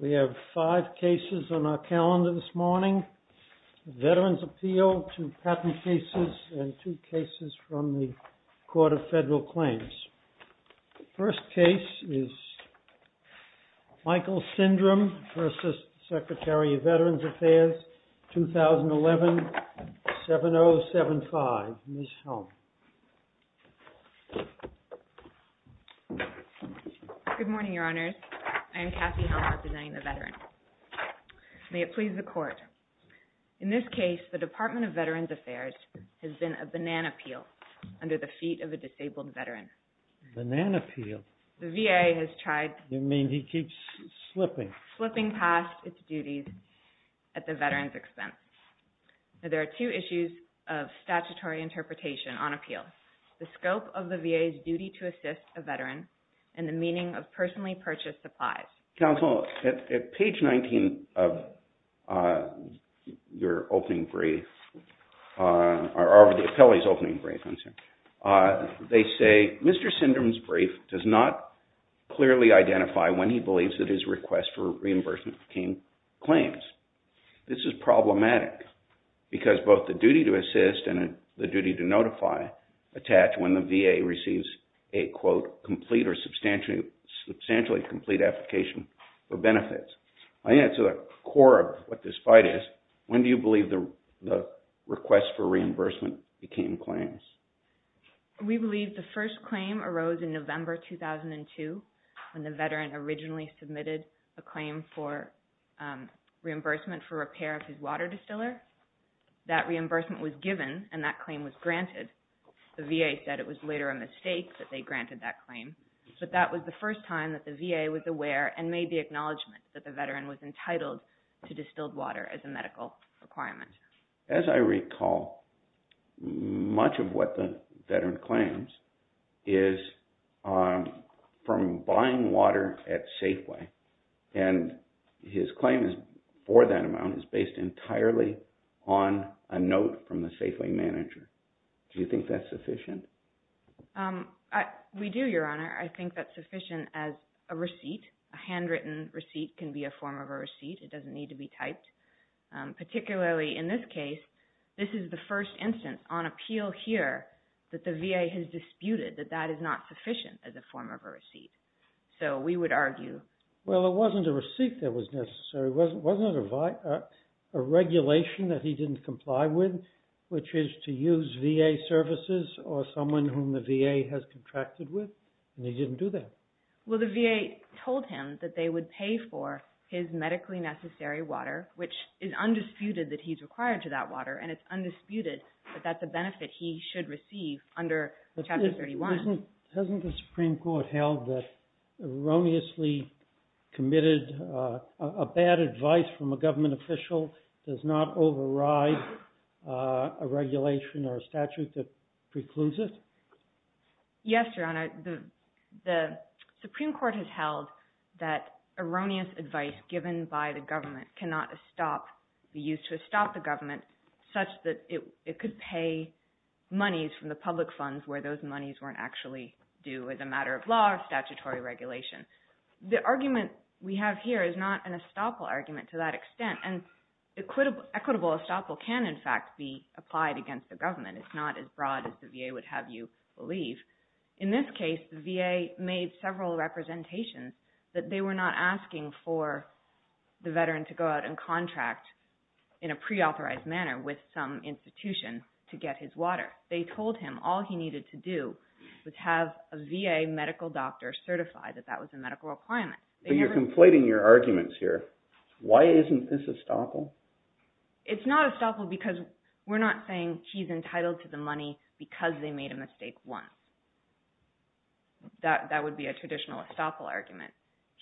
We have five cases on our calendar this morning, Veterans' Appeal, two patent cases, and two cases from the Court of Federal Claims. The first case is Michael Sindram v. Secretary of Veterans Affairs, 2011-7075, Ms. Helm. Good morning, Your Honors. I am Kathy Helm representing the Veterans. May it please the Court, in this case, the Department of Veterans Affairs has been a banana peel under the feet of a disabled veteran. Banana peel? The VA has tried. You mean he keeps slipping? Slipping past its duties at the veteran's expense. There are two issues of statutory interpretation on appeals, the scope of the VA's duty to assist a veteran, and the meaning of personally purchased supplies. Counsel, at page 19 of your opening brief, or of the appellee's opening brief, they say Mr. Sindram's brief does not clearly identify when he believes that his request for reimbursement came claims. This is problematic because both the duty to assist and the duty to notify attach when the VA receives a, quote, complete or substantially complete application for benefits. I think that's the core of what this fight is. When do you believe the request for reimbursement became claims? We believe the first claim arose in November 2002 when the veteran originally submitted a claim for reimbursement for repair of his water distiller. That reimbursement was given, and that claim was granted. The VA said it was later a mistake that they granted that claim, but that was the first time that the VA was aware and made the acknowledgment that the veteran was entitled to distilled water as a medical requirement. As I recall, much of what the veteran claims is from buying water at Safeway, and his claim for that amount is based entirely on a note from the Safeway manager. Do you think that's sufficient? We do, Your Honor. I think that's sufficient as a receipt. A handwritten receipt can be a form of a receipt. It doesn't need to be typed. Particularly in this case, this is the first instance on appeal here that the VA has disputed that that is not sufficient as a form of a receipt. We would argue... Well, it wasn't a receipt that was necessary. Wasn't it a regulation that he didn't comply with, which is to use VA services or someone whom the VA has contracted with, and he didn't do that? Well, the VA told him that they would pay for his medically necessary water, which is undisputed that he's required to that water, and it's undisputed that that's a benefit he should receive under Chapter 31. Hasn't the Supreme Court held that erroneously committed, a bad advice from a government official does not override a regulation or a statute that precludes it? Yes, Your Honor. The Supreme Court has held that erroneous advice given by the government cannot be used to stop the government such that it could pay monies from the public funds where those monies weren't actually due as a matter of law or statutory regulation. The argument we have here is not an estoppel argument to that extent, and equitable estoppel can in fact be applied against the government. It's not as broad as the VA would have you believe. In this case, the VA made several representations that they were not asking for the veteran to go out and contract in a preauthorized manner with some institution to get his water. They told him all he needed to do was have a VA medical doctor certify that that was a medical requirement. But you're conflating your arguments here. Why isn't this estoppel? It's not estoppel because we're not saying he's entitled to the money because they made a mistake once. That would be a traditional estoppel argument.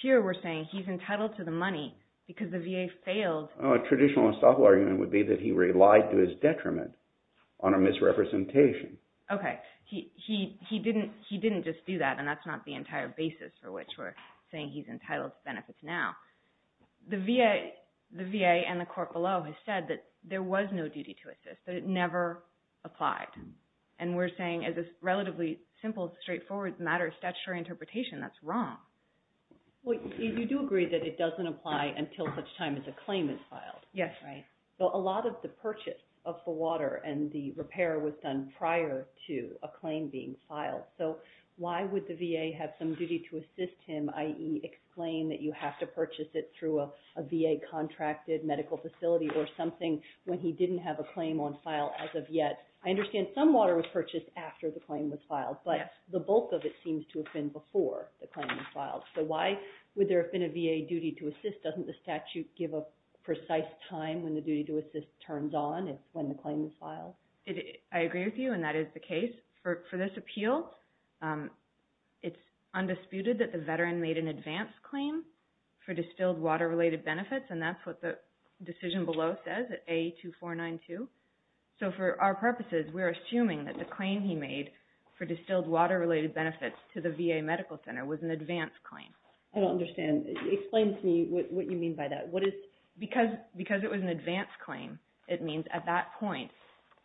Here we're saying he's entitled to the money because the VA failed. A traditional estoppel argument would be that he relied to his detriment on a misrepresentation. Okay. He didn't just do that, and that's not the entire basis for which we're saying he's entitled to benefits now. The VA and the court below has said that there was no duty to assist, that it never applied. And we're saying as a relatively simple, straightforward matter of statutory interpretation, that's wrong. Well, you do agree that it doesn't apply until such time as a claim is filed. Yes. Right. So a lot of the purchase of the water and the repair was done prior to a claim being filed. So why would the VA have some duty to assist him, i.e., explain that you have to purchase it through a VA-contracted medical facility or something when he didn't have a claim on file as of yet? I understand some water was purchased after the claim was filed, but the bulk of it seems to have been before the claim was filed. So why would there have been a VA duty to assist? Doesn't the statute give a precise time when the duty to assist turns on when the claim was filed? I agree with you, and that is the case. For this appeal, it's undisputed that the veteran made an advance claim for distilled water-related benefits, and that's what the decision below says, A2492. So for our purposes, we're assuming that the claim he made for distilled water-related benefits to the VA medical center was an advance claim. I don't understand. Explain to me what you mean by that. Because it was an advance claim, it means at that point,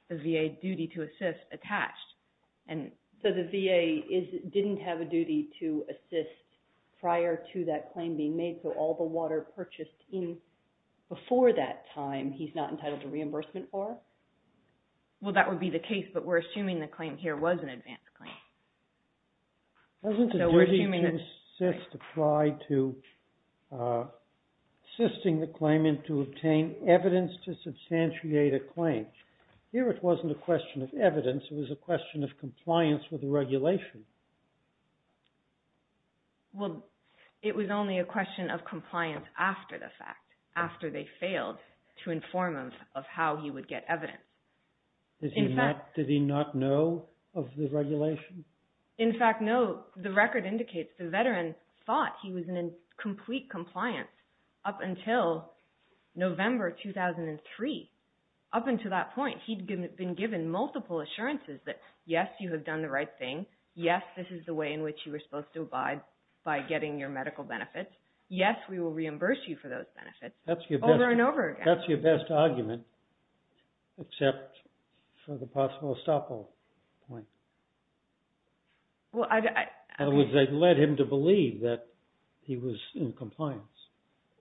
the VA duty to assist attached. So the VA didn't have a duty to assist prior to that claim being made, so all the water Well, that would be the case, but we're assuming the claim here was an advance claim. Wasn't the duty to assist applied to assisting the claimant to obtain evidence to substantiate a claim? Here, it wasn't a question of evidence, it was a question of compliance with the regulation. Well, it was only a question of compliance after the fact, after they failed to inform him of how he would get evidence. Did he not know of the regulation? In fact, no. The record indicates the veteran thought he was in complete compliance up until November 2003. Up until that point, he'd been given multiple assurances that, yes, you have done the right thing, yes, this is the way in which you were supposed to abide by getting your medical benefits, yes, we will reimburse you for those benefits over and over again. That's your best argument, except for the possible estoppel point. In other words, they led him to believe that he was in compliance.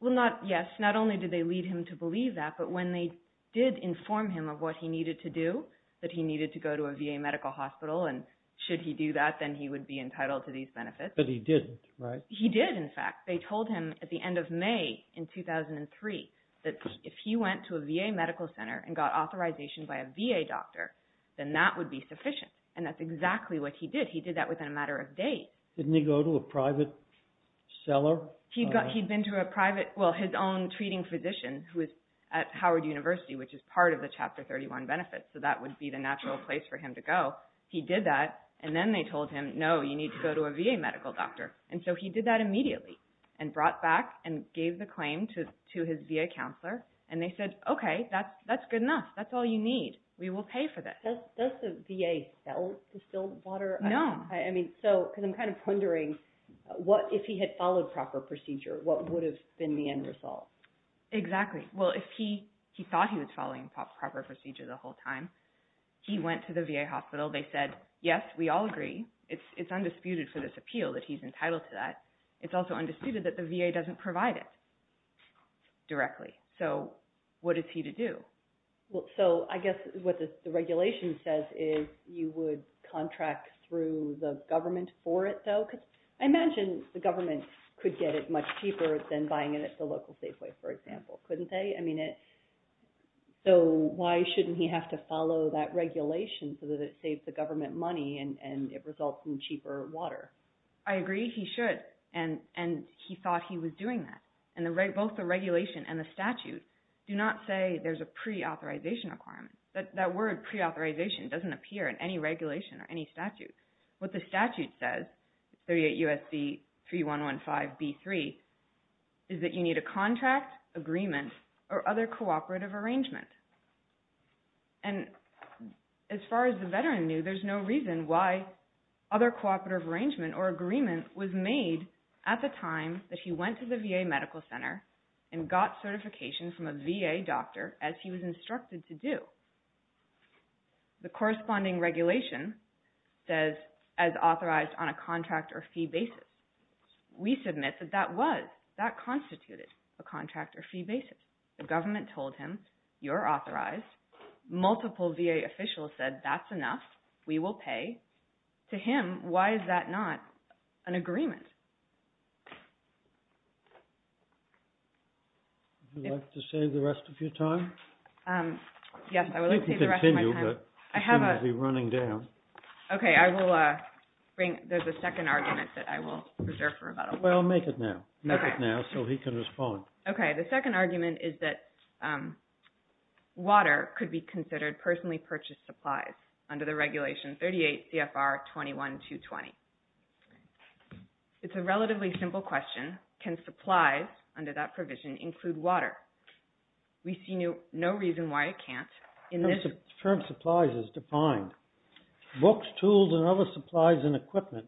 Well, yes, not only did they lead him to believe that, but when they did inform him of what he needed to do, that he needed to go to a VA medical hospital, and should he do that, then he would be entitled to these benefits. But he didn't, right? He did, in fact. They told him at the end of May in 2003 that if he went to a VA medical center and got authorization by a VA doctor, then that would be sufficient, and that's exactly what he did. He did that within a matter of days. Didn't he go to a private seller? He'd been to a private, well, his own treating physician who was at Howard University, which is part of the Chapter 31 benefits, so that would be the natural place for him to go. He did that, and then they told him, no, you need to go to a VA medical doctor, and so he did that immediately, and brought back and gave the claim to his VA counselor, and they said, okay, that's good enough. That's all you need. We will pay for this. Does the VA sell distilled water? No. I mean, so, because I'm kind of wondering, what if he had followed proper procedure, what would have been the end result? Exactly. Well, if he thought he was following proper procedure the whole time, he went to the VA hospital. They said, yes, we all agree. It's undisputed for this appeal that he's entitled to that. It's also undisputed that the VA doesn't provide it directly, so what is he to do? So I guess what the regulation says is you would contract through the government for it, though? I imagine the government could get it much cheaper than buying it at the local Safeway, for example. Couldn't they? I mean, so why shouldn't he have to follow that regulation so that it saves the government money and it results in cheaper water? I agree. He should, and he thought he was doing that, and both the regulation and the statute do not say there's a pre-authorization requirement. That word pre-authorization doesn't appear in any regulation or any statute. What the statute says, 38 U.S.C. 3115B3, is that you need a contract, agreement, or other cooperative arrangement. And as far as the veteran knew, there's no reason why other cooperative arrangement or agreement was made at the time that he went to the VA Medical Center and got certification from a VA doctor as he was instructed to do. The corresponding regulation says, as authorized on a contract or fee basis. We submit that that was, that constituted a contract or fee basis. The government told him, you're authorized. Multiple VA officials said, that's enough. We will pay. To him, why is that not an agreement? Would you like to save the rest of your time? Yes, I would like to save the rest of my time. I think you can continue, but you seem to be running down. Okay, I will bring, there's a second argument that I will reserve for rebuttal. Well, make it now. Okay. Make it now so he can respond. Okay, the second argument is that water could be considered personally purchased supplies under the regulation 38 CFR 21-220. It's a relatively simple question. Can supplies under that provision include water? We see no reason why it can't. The term supplies is defined. Books, tools, and other supplies and equipment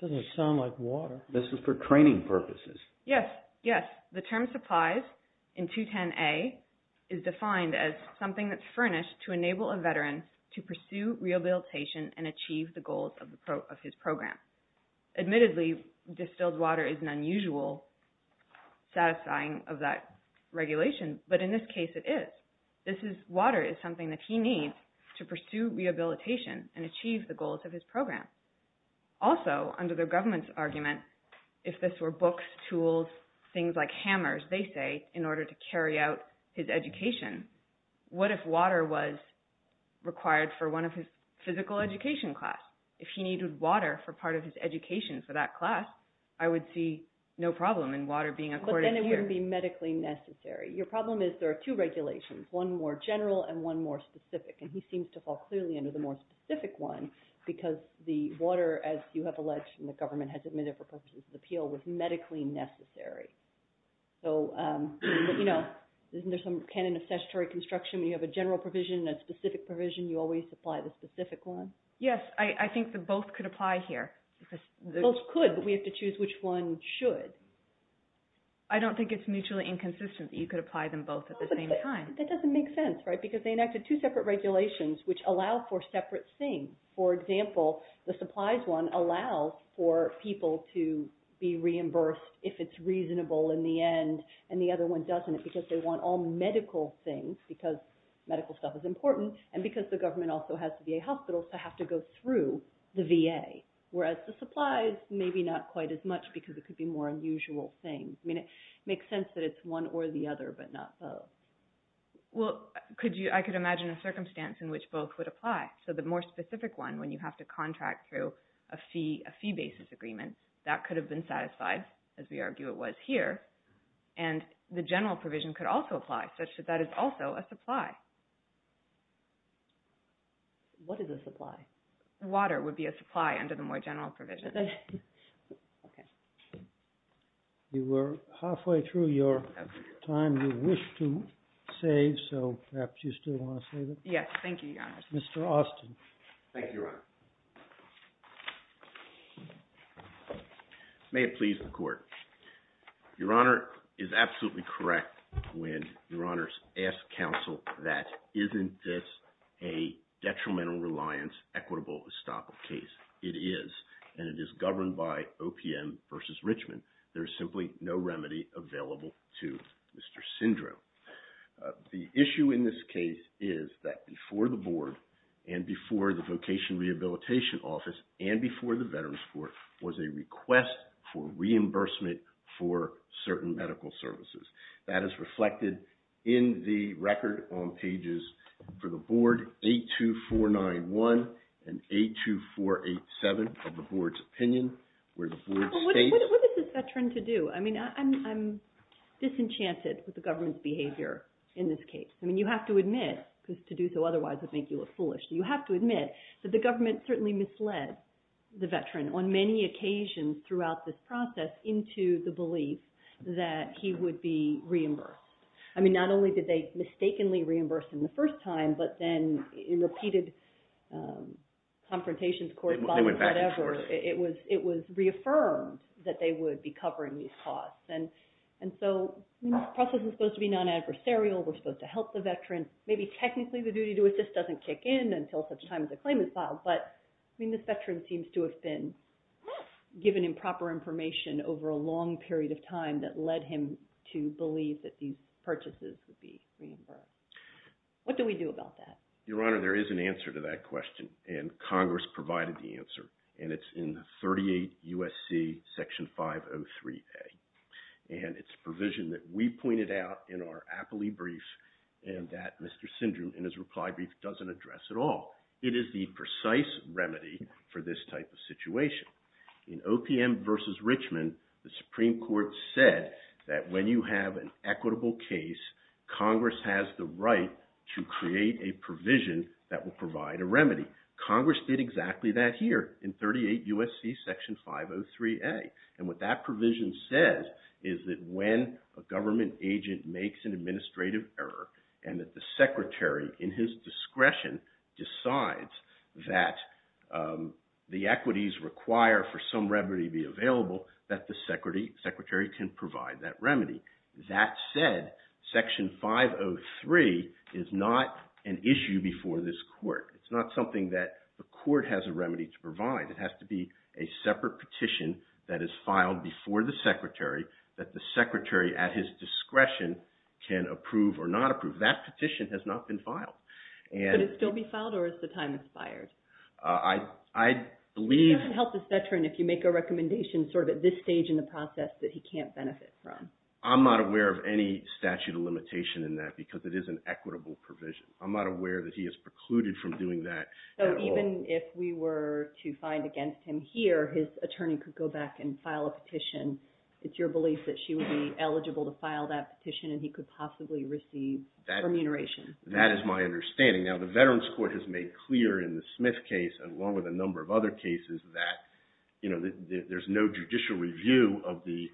doesn't sound like water. This is for training purposes. Yes, yes. The term supplies in 210A is defined as something that's furnished to enable a veteran to pursue rehabilitation and achieve the goals of his program. Admittedly, distilled water is an unusual satisfying of that regulation, but in this case it is. This is, water is something that he needs to pursue rehabilitation and achieve the goals of his program. Also, under the government's argument, if this were books, tools, things like hammers, they say, in order to carry out his education, what if water was required for one of his physical education class? If he needed water for part of his education for that class, I would see no problem in water being accorded here. But then it wouldn't be medically necessary. Your problem is there are two regulations, one more general and one more specific, and he seems to fall clearly under the more specific one because the water, as you have alleged and the government has admitted for purposes of appeal, was medically necessary. So, you know, isn't there some canon of statutory construction when you have a general provision and a specific provision, you always apply the specific one? Yes, I think that both could apply here. Both could, but we have to choose which one should. I don't think it's mutually inconsistent that you could apply them both at the same time. That doesn't make sense, right? Because they enacted two separate regulations which allow for separate things. For example, the supplies one allows for people to be reimbursed if it's reasonable in the end, and the other one doesn't because they want all medical things because medical stuff is important and because the government also has the VA hospitals to have to go through the VA. Whereas the supplies, maybe not quite as much because it could be more unusual things. It makes sense that it's one or the other, but not both. Well, I could imagine a circumstance in which both would apply. So the more specific one, when you have to contract through a fee basis agreement, that could have been satisfied, as we argue it was here, and the general provision could also apply such that that is also a supply. What is a supply? Water would be a supply under the more general provision. Okay. You were halfway through your time. You wish to say, so perhaps you still want to say that? Yes. Thank you, Your Honor. Mr. Austin. Thank you, Your Honor. May it please the Court. Your Honor is absolutely correct when Your Honors asks counsel that isn't this a detrimental reliance equitable estoppel case? It is, and it is governed by OPM versus Richmond. There is simply no remedy available to Mr. Sindro. The issue in this case is that before the Board and before the Vocation Rehabilitation Office and before the Veterans Court was a request for reimbursement for certain medical services. That is reflected in the record on pages for the Board, 82491 and 82487 of the Board's opinion, where the Board states... What is this veteran to do? I mean, I'm disenchanted with the government's behavior in this case. I mean, you have to admit, because to do so otherwise would make you look foolish. You have to admit that the government certainly misled the veteran on many occasions throughout this process into the belief that he would be reimbursed. I mean, not only did they mistakenly reimburse him the first time, but then in repeated confrontations, court bodies, whatever, it was reaffirmed that they would be covering these costs. And so this process is supposed to be non-adversarial. We're supposed to help the veteran. Maybe technically the duty to assist doesn't kick in until such time as the claim is filed, but I mean, this veteran seems to have been given improper information over a long period of time that led him to believe that these purchases would be reimbursed. What do we do about that? Your Honor, there is an answer to that question, and Congress provided the answer. And it's in 38 U.S.C. Section 503A. And it's a provision that we pointed out in our appellee brief, and that Mr. Syndrome in his reply brief doesn't address at all. It is the precise remedy for this type of situation. In OPM v. Richmond, the Supreme Court said that when you have an equitable case, Congress has the right to create a provision that will provide a remedy. Congress did exactly that here in 38 U.S.C. Section 503A. And what that provision says is that when a government agent makes an administrative error and that the secretary in his discretion decides that the equities require for some remedy to be available, that the secretary can provide that remedy. That said, Section 503 is not an issue before this court. It's not something that the court has a remedy to provide. It has to be a separate petition that is filed before the secretary that the secretary at his discretion can approve or not approve. That petition has not been filed. Could it still be filed, or has the time expired? I believe... It doesn't help the veteran if you make a recommendation sort of at this stage in the process that he can't benefit from. I'm not aware of any statute of limitation in that because it is an equitable provision. I'm not aware that he is precluded from doing that at all. So even if we were to find against him here, his attorney could go back and file a petition. It's your belief that she would be eligible to file that petition and he could possibly receive remuneration. That is my understanding. Now, the Veterans Court has made clear in the Smith case, along with a number of other cases, that there's no judicial review of the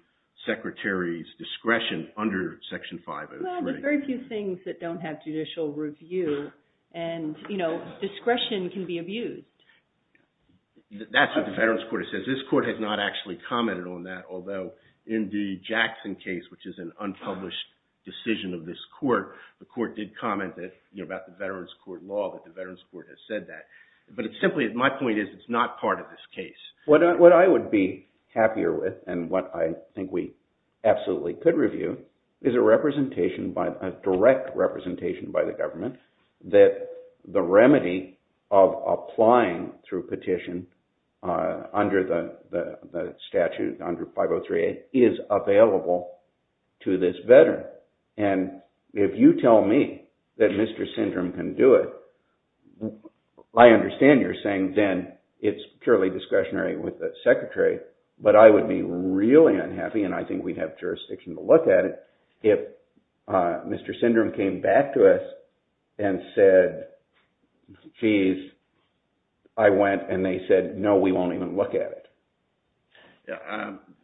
secretary's discretion under Section 503. Well, there's very few things that don't have judicial review. And discretion can be abused. That's what the Veterans Court has said. Because this court has not actually commented on that, although in the Jackson case, which is an unpublished decision of this court, the court did comment about the Veterans Court law, that the Veterans Court has said that. But simply, my point is, it's not part of this case. What I would be happier with, and what I think we absolutely could review, is a representation, a direct representation by the government, that the remedy of applying through petition, under the statute, under 503A, is available to this veteran. And if you tell me that Mr. Syndrome can do it, I understand you're saying then, it's purely discretionary with the secretary, but I would be really unhappy, and I think we'd have jurisdiction to look at it, if Mr. Syndrome came back to us, and said, geez, I went, and they said, no, we won't even look at it.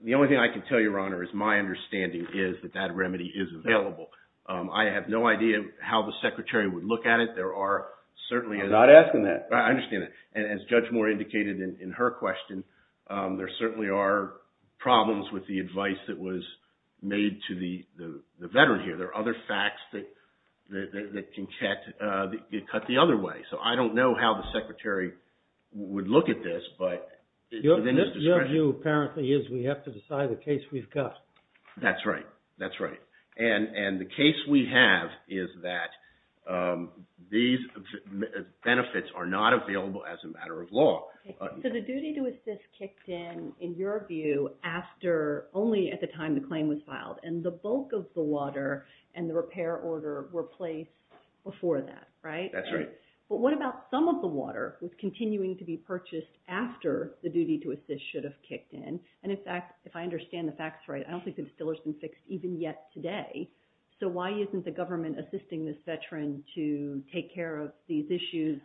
The only thing I can tell you, Your Honor, is my understanding is that that remedy is available. I have no idea how the secretary would look at it. There are certainly... I'm not asking that. I understand that. And as Judge Moore indicated in her question, there certainly are problems with the advice that was made to the veteran here. There are other facts that can cut the other way. So I don't know how the secretary would look at this, but it's within his discretion. Your view apparently is we have to decide the case we've got. That's right. That's right. And the case we have is that these benefits are not available as a matter of law. So the duty to assist kicked in, in your view, only at the time the claim was filed. And the bulk of the water and the repair order were placed before that, right? That's right. But what about some of the water that's continuing to be purchased after the duty to assist should have kicked in? And in fact, if I understand the facts right, I don't think the distiller's been fixed even yet today. So why isn't the government assisting this veteran to take care of these issues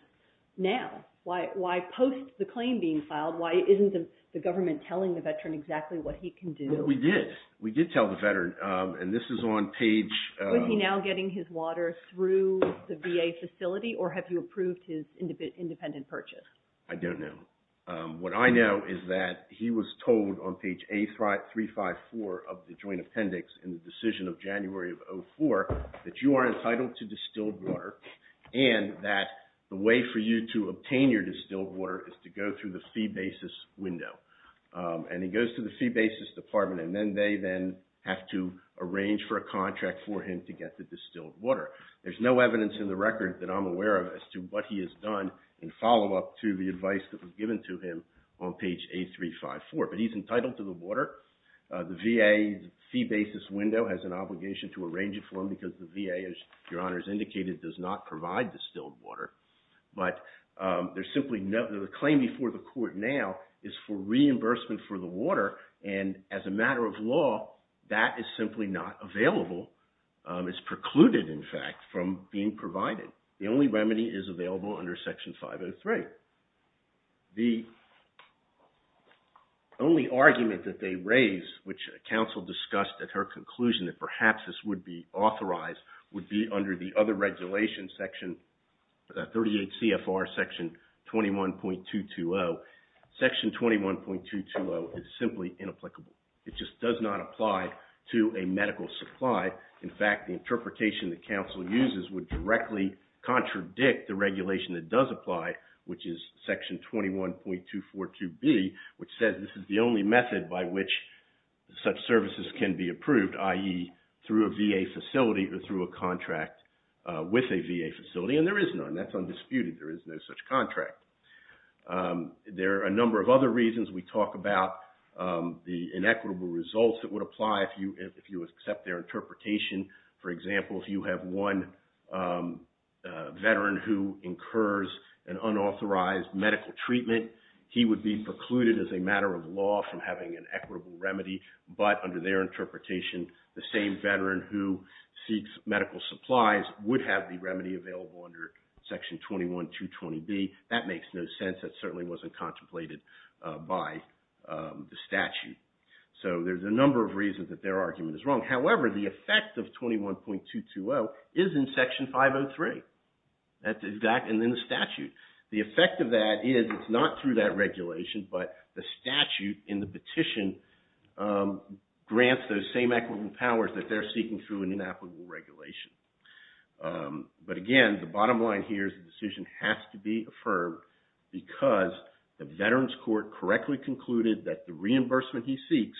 now? Why post the claim being filed, why isn't the government telling the veteran exactly what he can do? We did. We did tell the veteran. And this is on page... Is he now getting his water through the VA facility or have you approved his independent purchase? I don't know. What I know is that he was told on page A354 of the joint appendix in the decision of January of 2004 that you are entitled to distilled water and that the way for you to obtain your distilled water is to go through the fee basis window. And he goes to the fee basis department and then they then have to arrange for a contract for him to get the distilled water. There's no evidence in the record that I'm aware of as to what he has done in follow-up to the advice that was given to him on page A354. But he's entitled to the water. The VA fee basis window has an obligation to arrange it for him because the VA, as Your Honor has indicated, does not provide distilled water. But there's simply no... The claim before the court now is for reimbursement for the water and as a matter of law, that is simply not available. It's precluded, in fact, from being provided. The only remedy is available under Section 503. The only argument that they raise, which counsel discussed at her conclusion that perhaps this would be authorized, would be under the other regulation, Section 38 CFR, Section 21.220. Section 21.220 is simply inapplicable. It just does not apply to a medical supply. In fact, the interpretation that counsel uses would directly contradict the regulation that does apply, which is Section 21.242B, which says this is the only method by which such services can be approved, i.e. through a VA facility or through a contract with a VA facility, and there is none. That's undisputed. There is no such contract. There are a number of other reasons. We talk about the inequitable results that would apply if you accept their interpretation. For example, if you have one veteran who incurs an unauthorized medical treatment, he would be precluded as a matter of law from having an equitable remedy, but under their interpretation, the same veteran who seeks medical supplies would have the remedy available under Section 21.220B. That makes no sense. That certainly wasn't contemplated by the statute. So there's a number of reasons that their argument is wrong. However, the effect of 21.220 is in Section 503. That's exact, and then the statute. The effect of that is it's not through that regulation, but the statute in the petition grants those same equitable powers that they're seeking through an inapplicable regulation. But again, the bottom line here is the decision has to be affirmed because the Veterans Court correctly concluded that the reimbursement he seeks,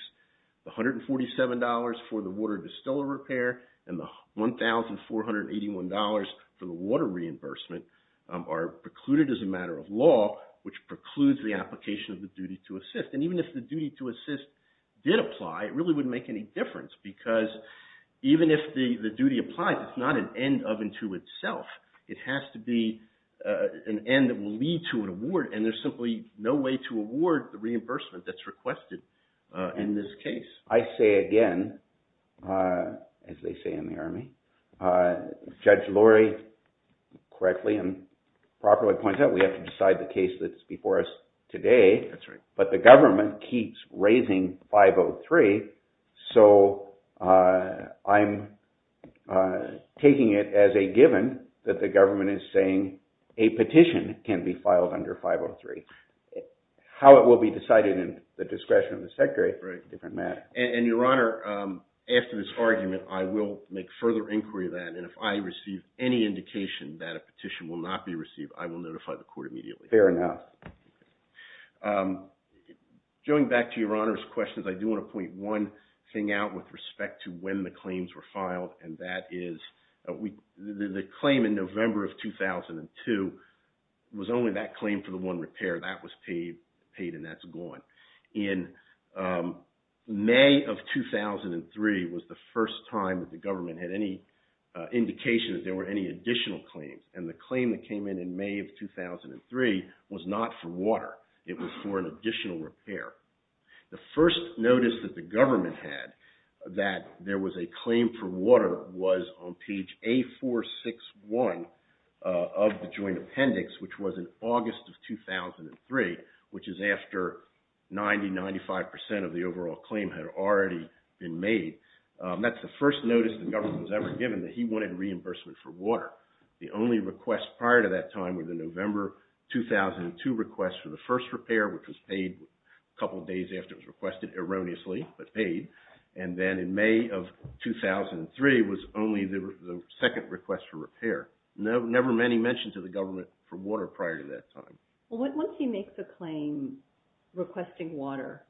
the $147 for the water distiller repair and the $1,481 for the water reimbursement are precluded as a matter of law, which precludes the application of the duty to assist. And even if the duty to assist did apply, it really wouldn't make any difference because even if the duty applies, it's not an end of and to itself. It has to be an end that will lead to an award, and there's simply no way to award the reimbursement that's requested in this case. I say again, as they say in the Army, Judge Lurie correctly and properly points out that we have to decide the case that's before us today, but the government keeps raising 503, so I'm taking it as a given that the government is saying a petition can be filed under 503. How it will be decided in the discretion of the Secretary is a different matter. And Your Honor, after this argument, I will make further inquiry of that, and if I receive any indication that a petition will not be received, I will notify the court immediately. Fair enough. Going back to Your Honor's questions, I do want to point one thing out with respect to when the claims were filed, and that is the claim in November of 2002 was only that claim for the one repair. That was paid, and that's gone. In May of 2003 was the first time that the government had any indication that there were any additional claims, and the claim that came in in May of 2003 was not for water. It was for an additional repair. The first notice that the government had that there was a claim for water was on page A461 of the Joint Appendix, which was in August of 2003, which is after 90-95% of the overall claim had already been made. That's the first notice the government was ever given that he wanted reimbursement for water. The only requests prior to that time were the November 2002 request for the first repair, which was paid a couple days after it was requested, erroneously, but paid. And then in May of 2003 was only the second request for repair. Never many mentions of the government for water prior to that time. Once he makes a claim requesting water,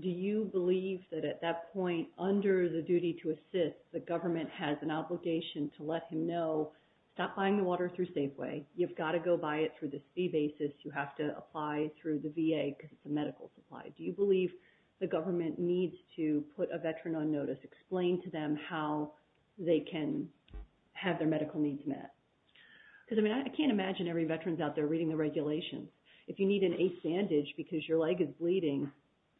do you believe that at that point, under the duty to assist, the government has an obligation to let him know stop buying the water through Safeway. You've got to go buy it through the fee basis. You have to apply through the VA because it's a medical supply. Do you believe the government needs to put a veteran on notice, explain to them how they can have their medical needs met? Because, I mean, I can't imagine every veteran's out there reading the regulations. If you need an A sandage because your leg is bleeding,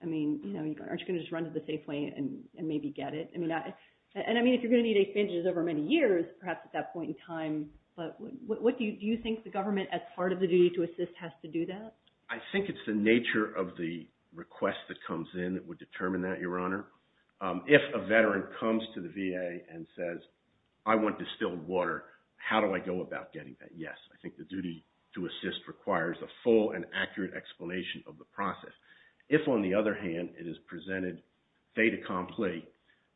I mean, aren't you going to just run to the Safeway and maybe get it? I mean, if you're going to need A sandages over many years, perhaps at that point in time, do you think the government, as part of the duty to assist, has to do that? I think it's the nature of the request that comes in that would determine that, Your Honor. If a veteran comes to the VA and says, I want distilled water, how do I go about getting that? Yes, I think the duty to assist requires a full and accurate explanation of the process. If, on the other hand, it is presented fait accompli,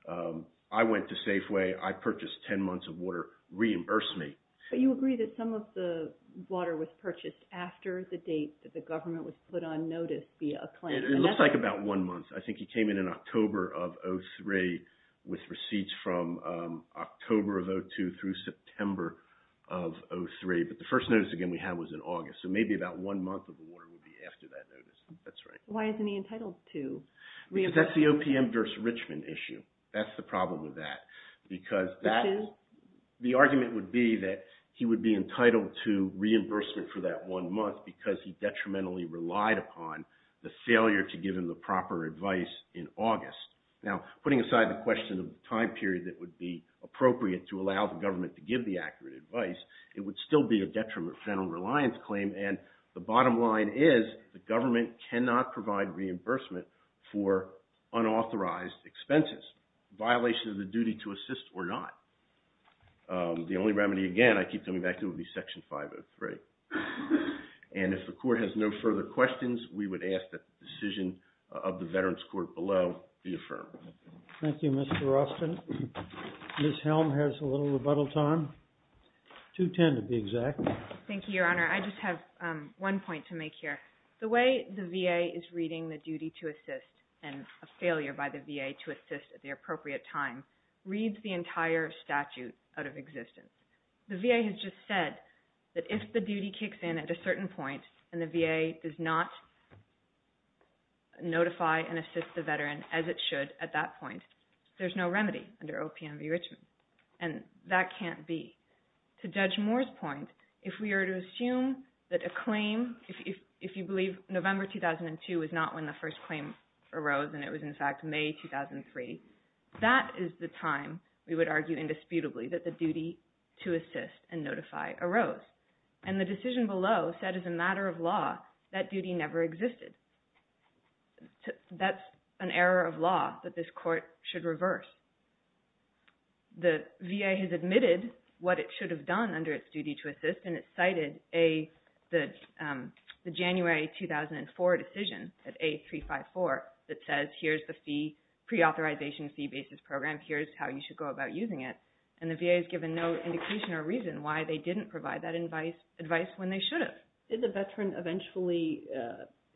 I went to Safeway, I purchased 10 months of water, reimburse me. But you agree that some of the water was purchased after the date that the government was put on notice via a claim. It looks like about one month. I think he came in in October of 2003 with receipts from October of 2002 through September of 2003. But the first notice, again, we had was in August. So maybe about one month of the water would be after that notice. That's right. Why isn't he entitled to reimbursement? I mean, that's the OPM versus Richmond issue. That's the problem with that. Because the argument would be that he would be entitled to reimbursement for that one month because he detrimentally relied upon the failure to give him the proper advice in August. Now, putting aside the question of time period that would be appropriate to allow the government to give the accurate advice, it would still be a detriment federal reliance claim. And the bottom line is the government cannot provide reimbursement for unauthorized expenses, violation of the duty to assist or not. The only remedy, again, I keep coming back to would be Section 503. And if the court has no further questions, we would ask that the decision of the Veterans Court below be affirmed. Thank you, Mr. Austin. Ms. Helm has a little rebuttal time, 2.10 to be exact. Thank you, Your Honor. I just have one point to make here. The way the VA is reading the duty to assist and a failure by the VA to assist at the appropriate time reads the entire statute out of existence. The VA has just said that if the duty kicks in at a certain point and the VA does not notify and assist the veteran as it should at that point, there's no remedy under OPM v. Richmond. And that can't be. To Judge Moore's point, if we are to assume that a claim, if you believe November 2002 was not when the first claim arose and it was in fact May 2003, that is the time we would argue indisputably that the duty to assist and notify arose. And the decision below said as a matter of law that duty never existed. That's an error of law that this court should reverse. The VA has admitted what it should have done under its duty to assist, and it cited the January 2004 decision at A354 that says here's the pre-authorization fee-based program, here's how you should go about using it. And the VA has given no indication or reason why they didn't provide that advice when they should have. Did the veteran eventually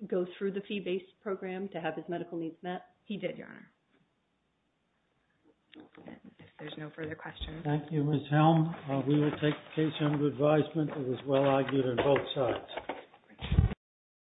go through the fee-based program to have his medical needs met? He did, Your Honor. If there's no further questions. Thank you, Ms. Helm. We will take the case under advisement. It was well argued on both sides.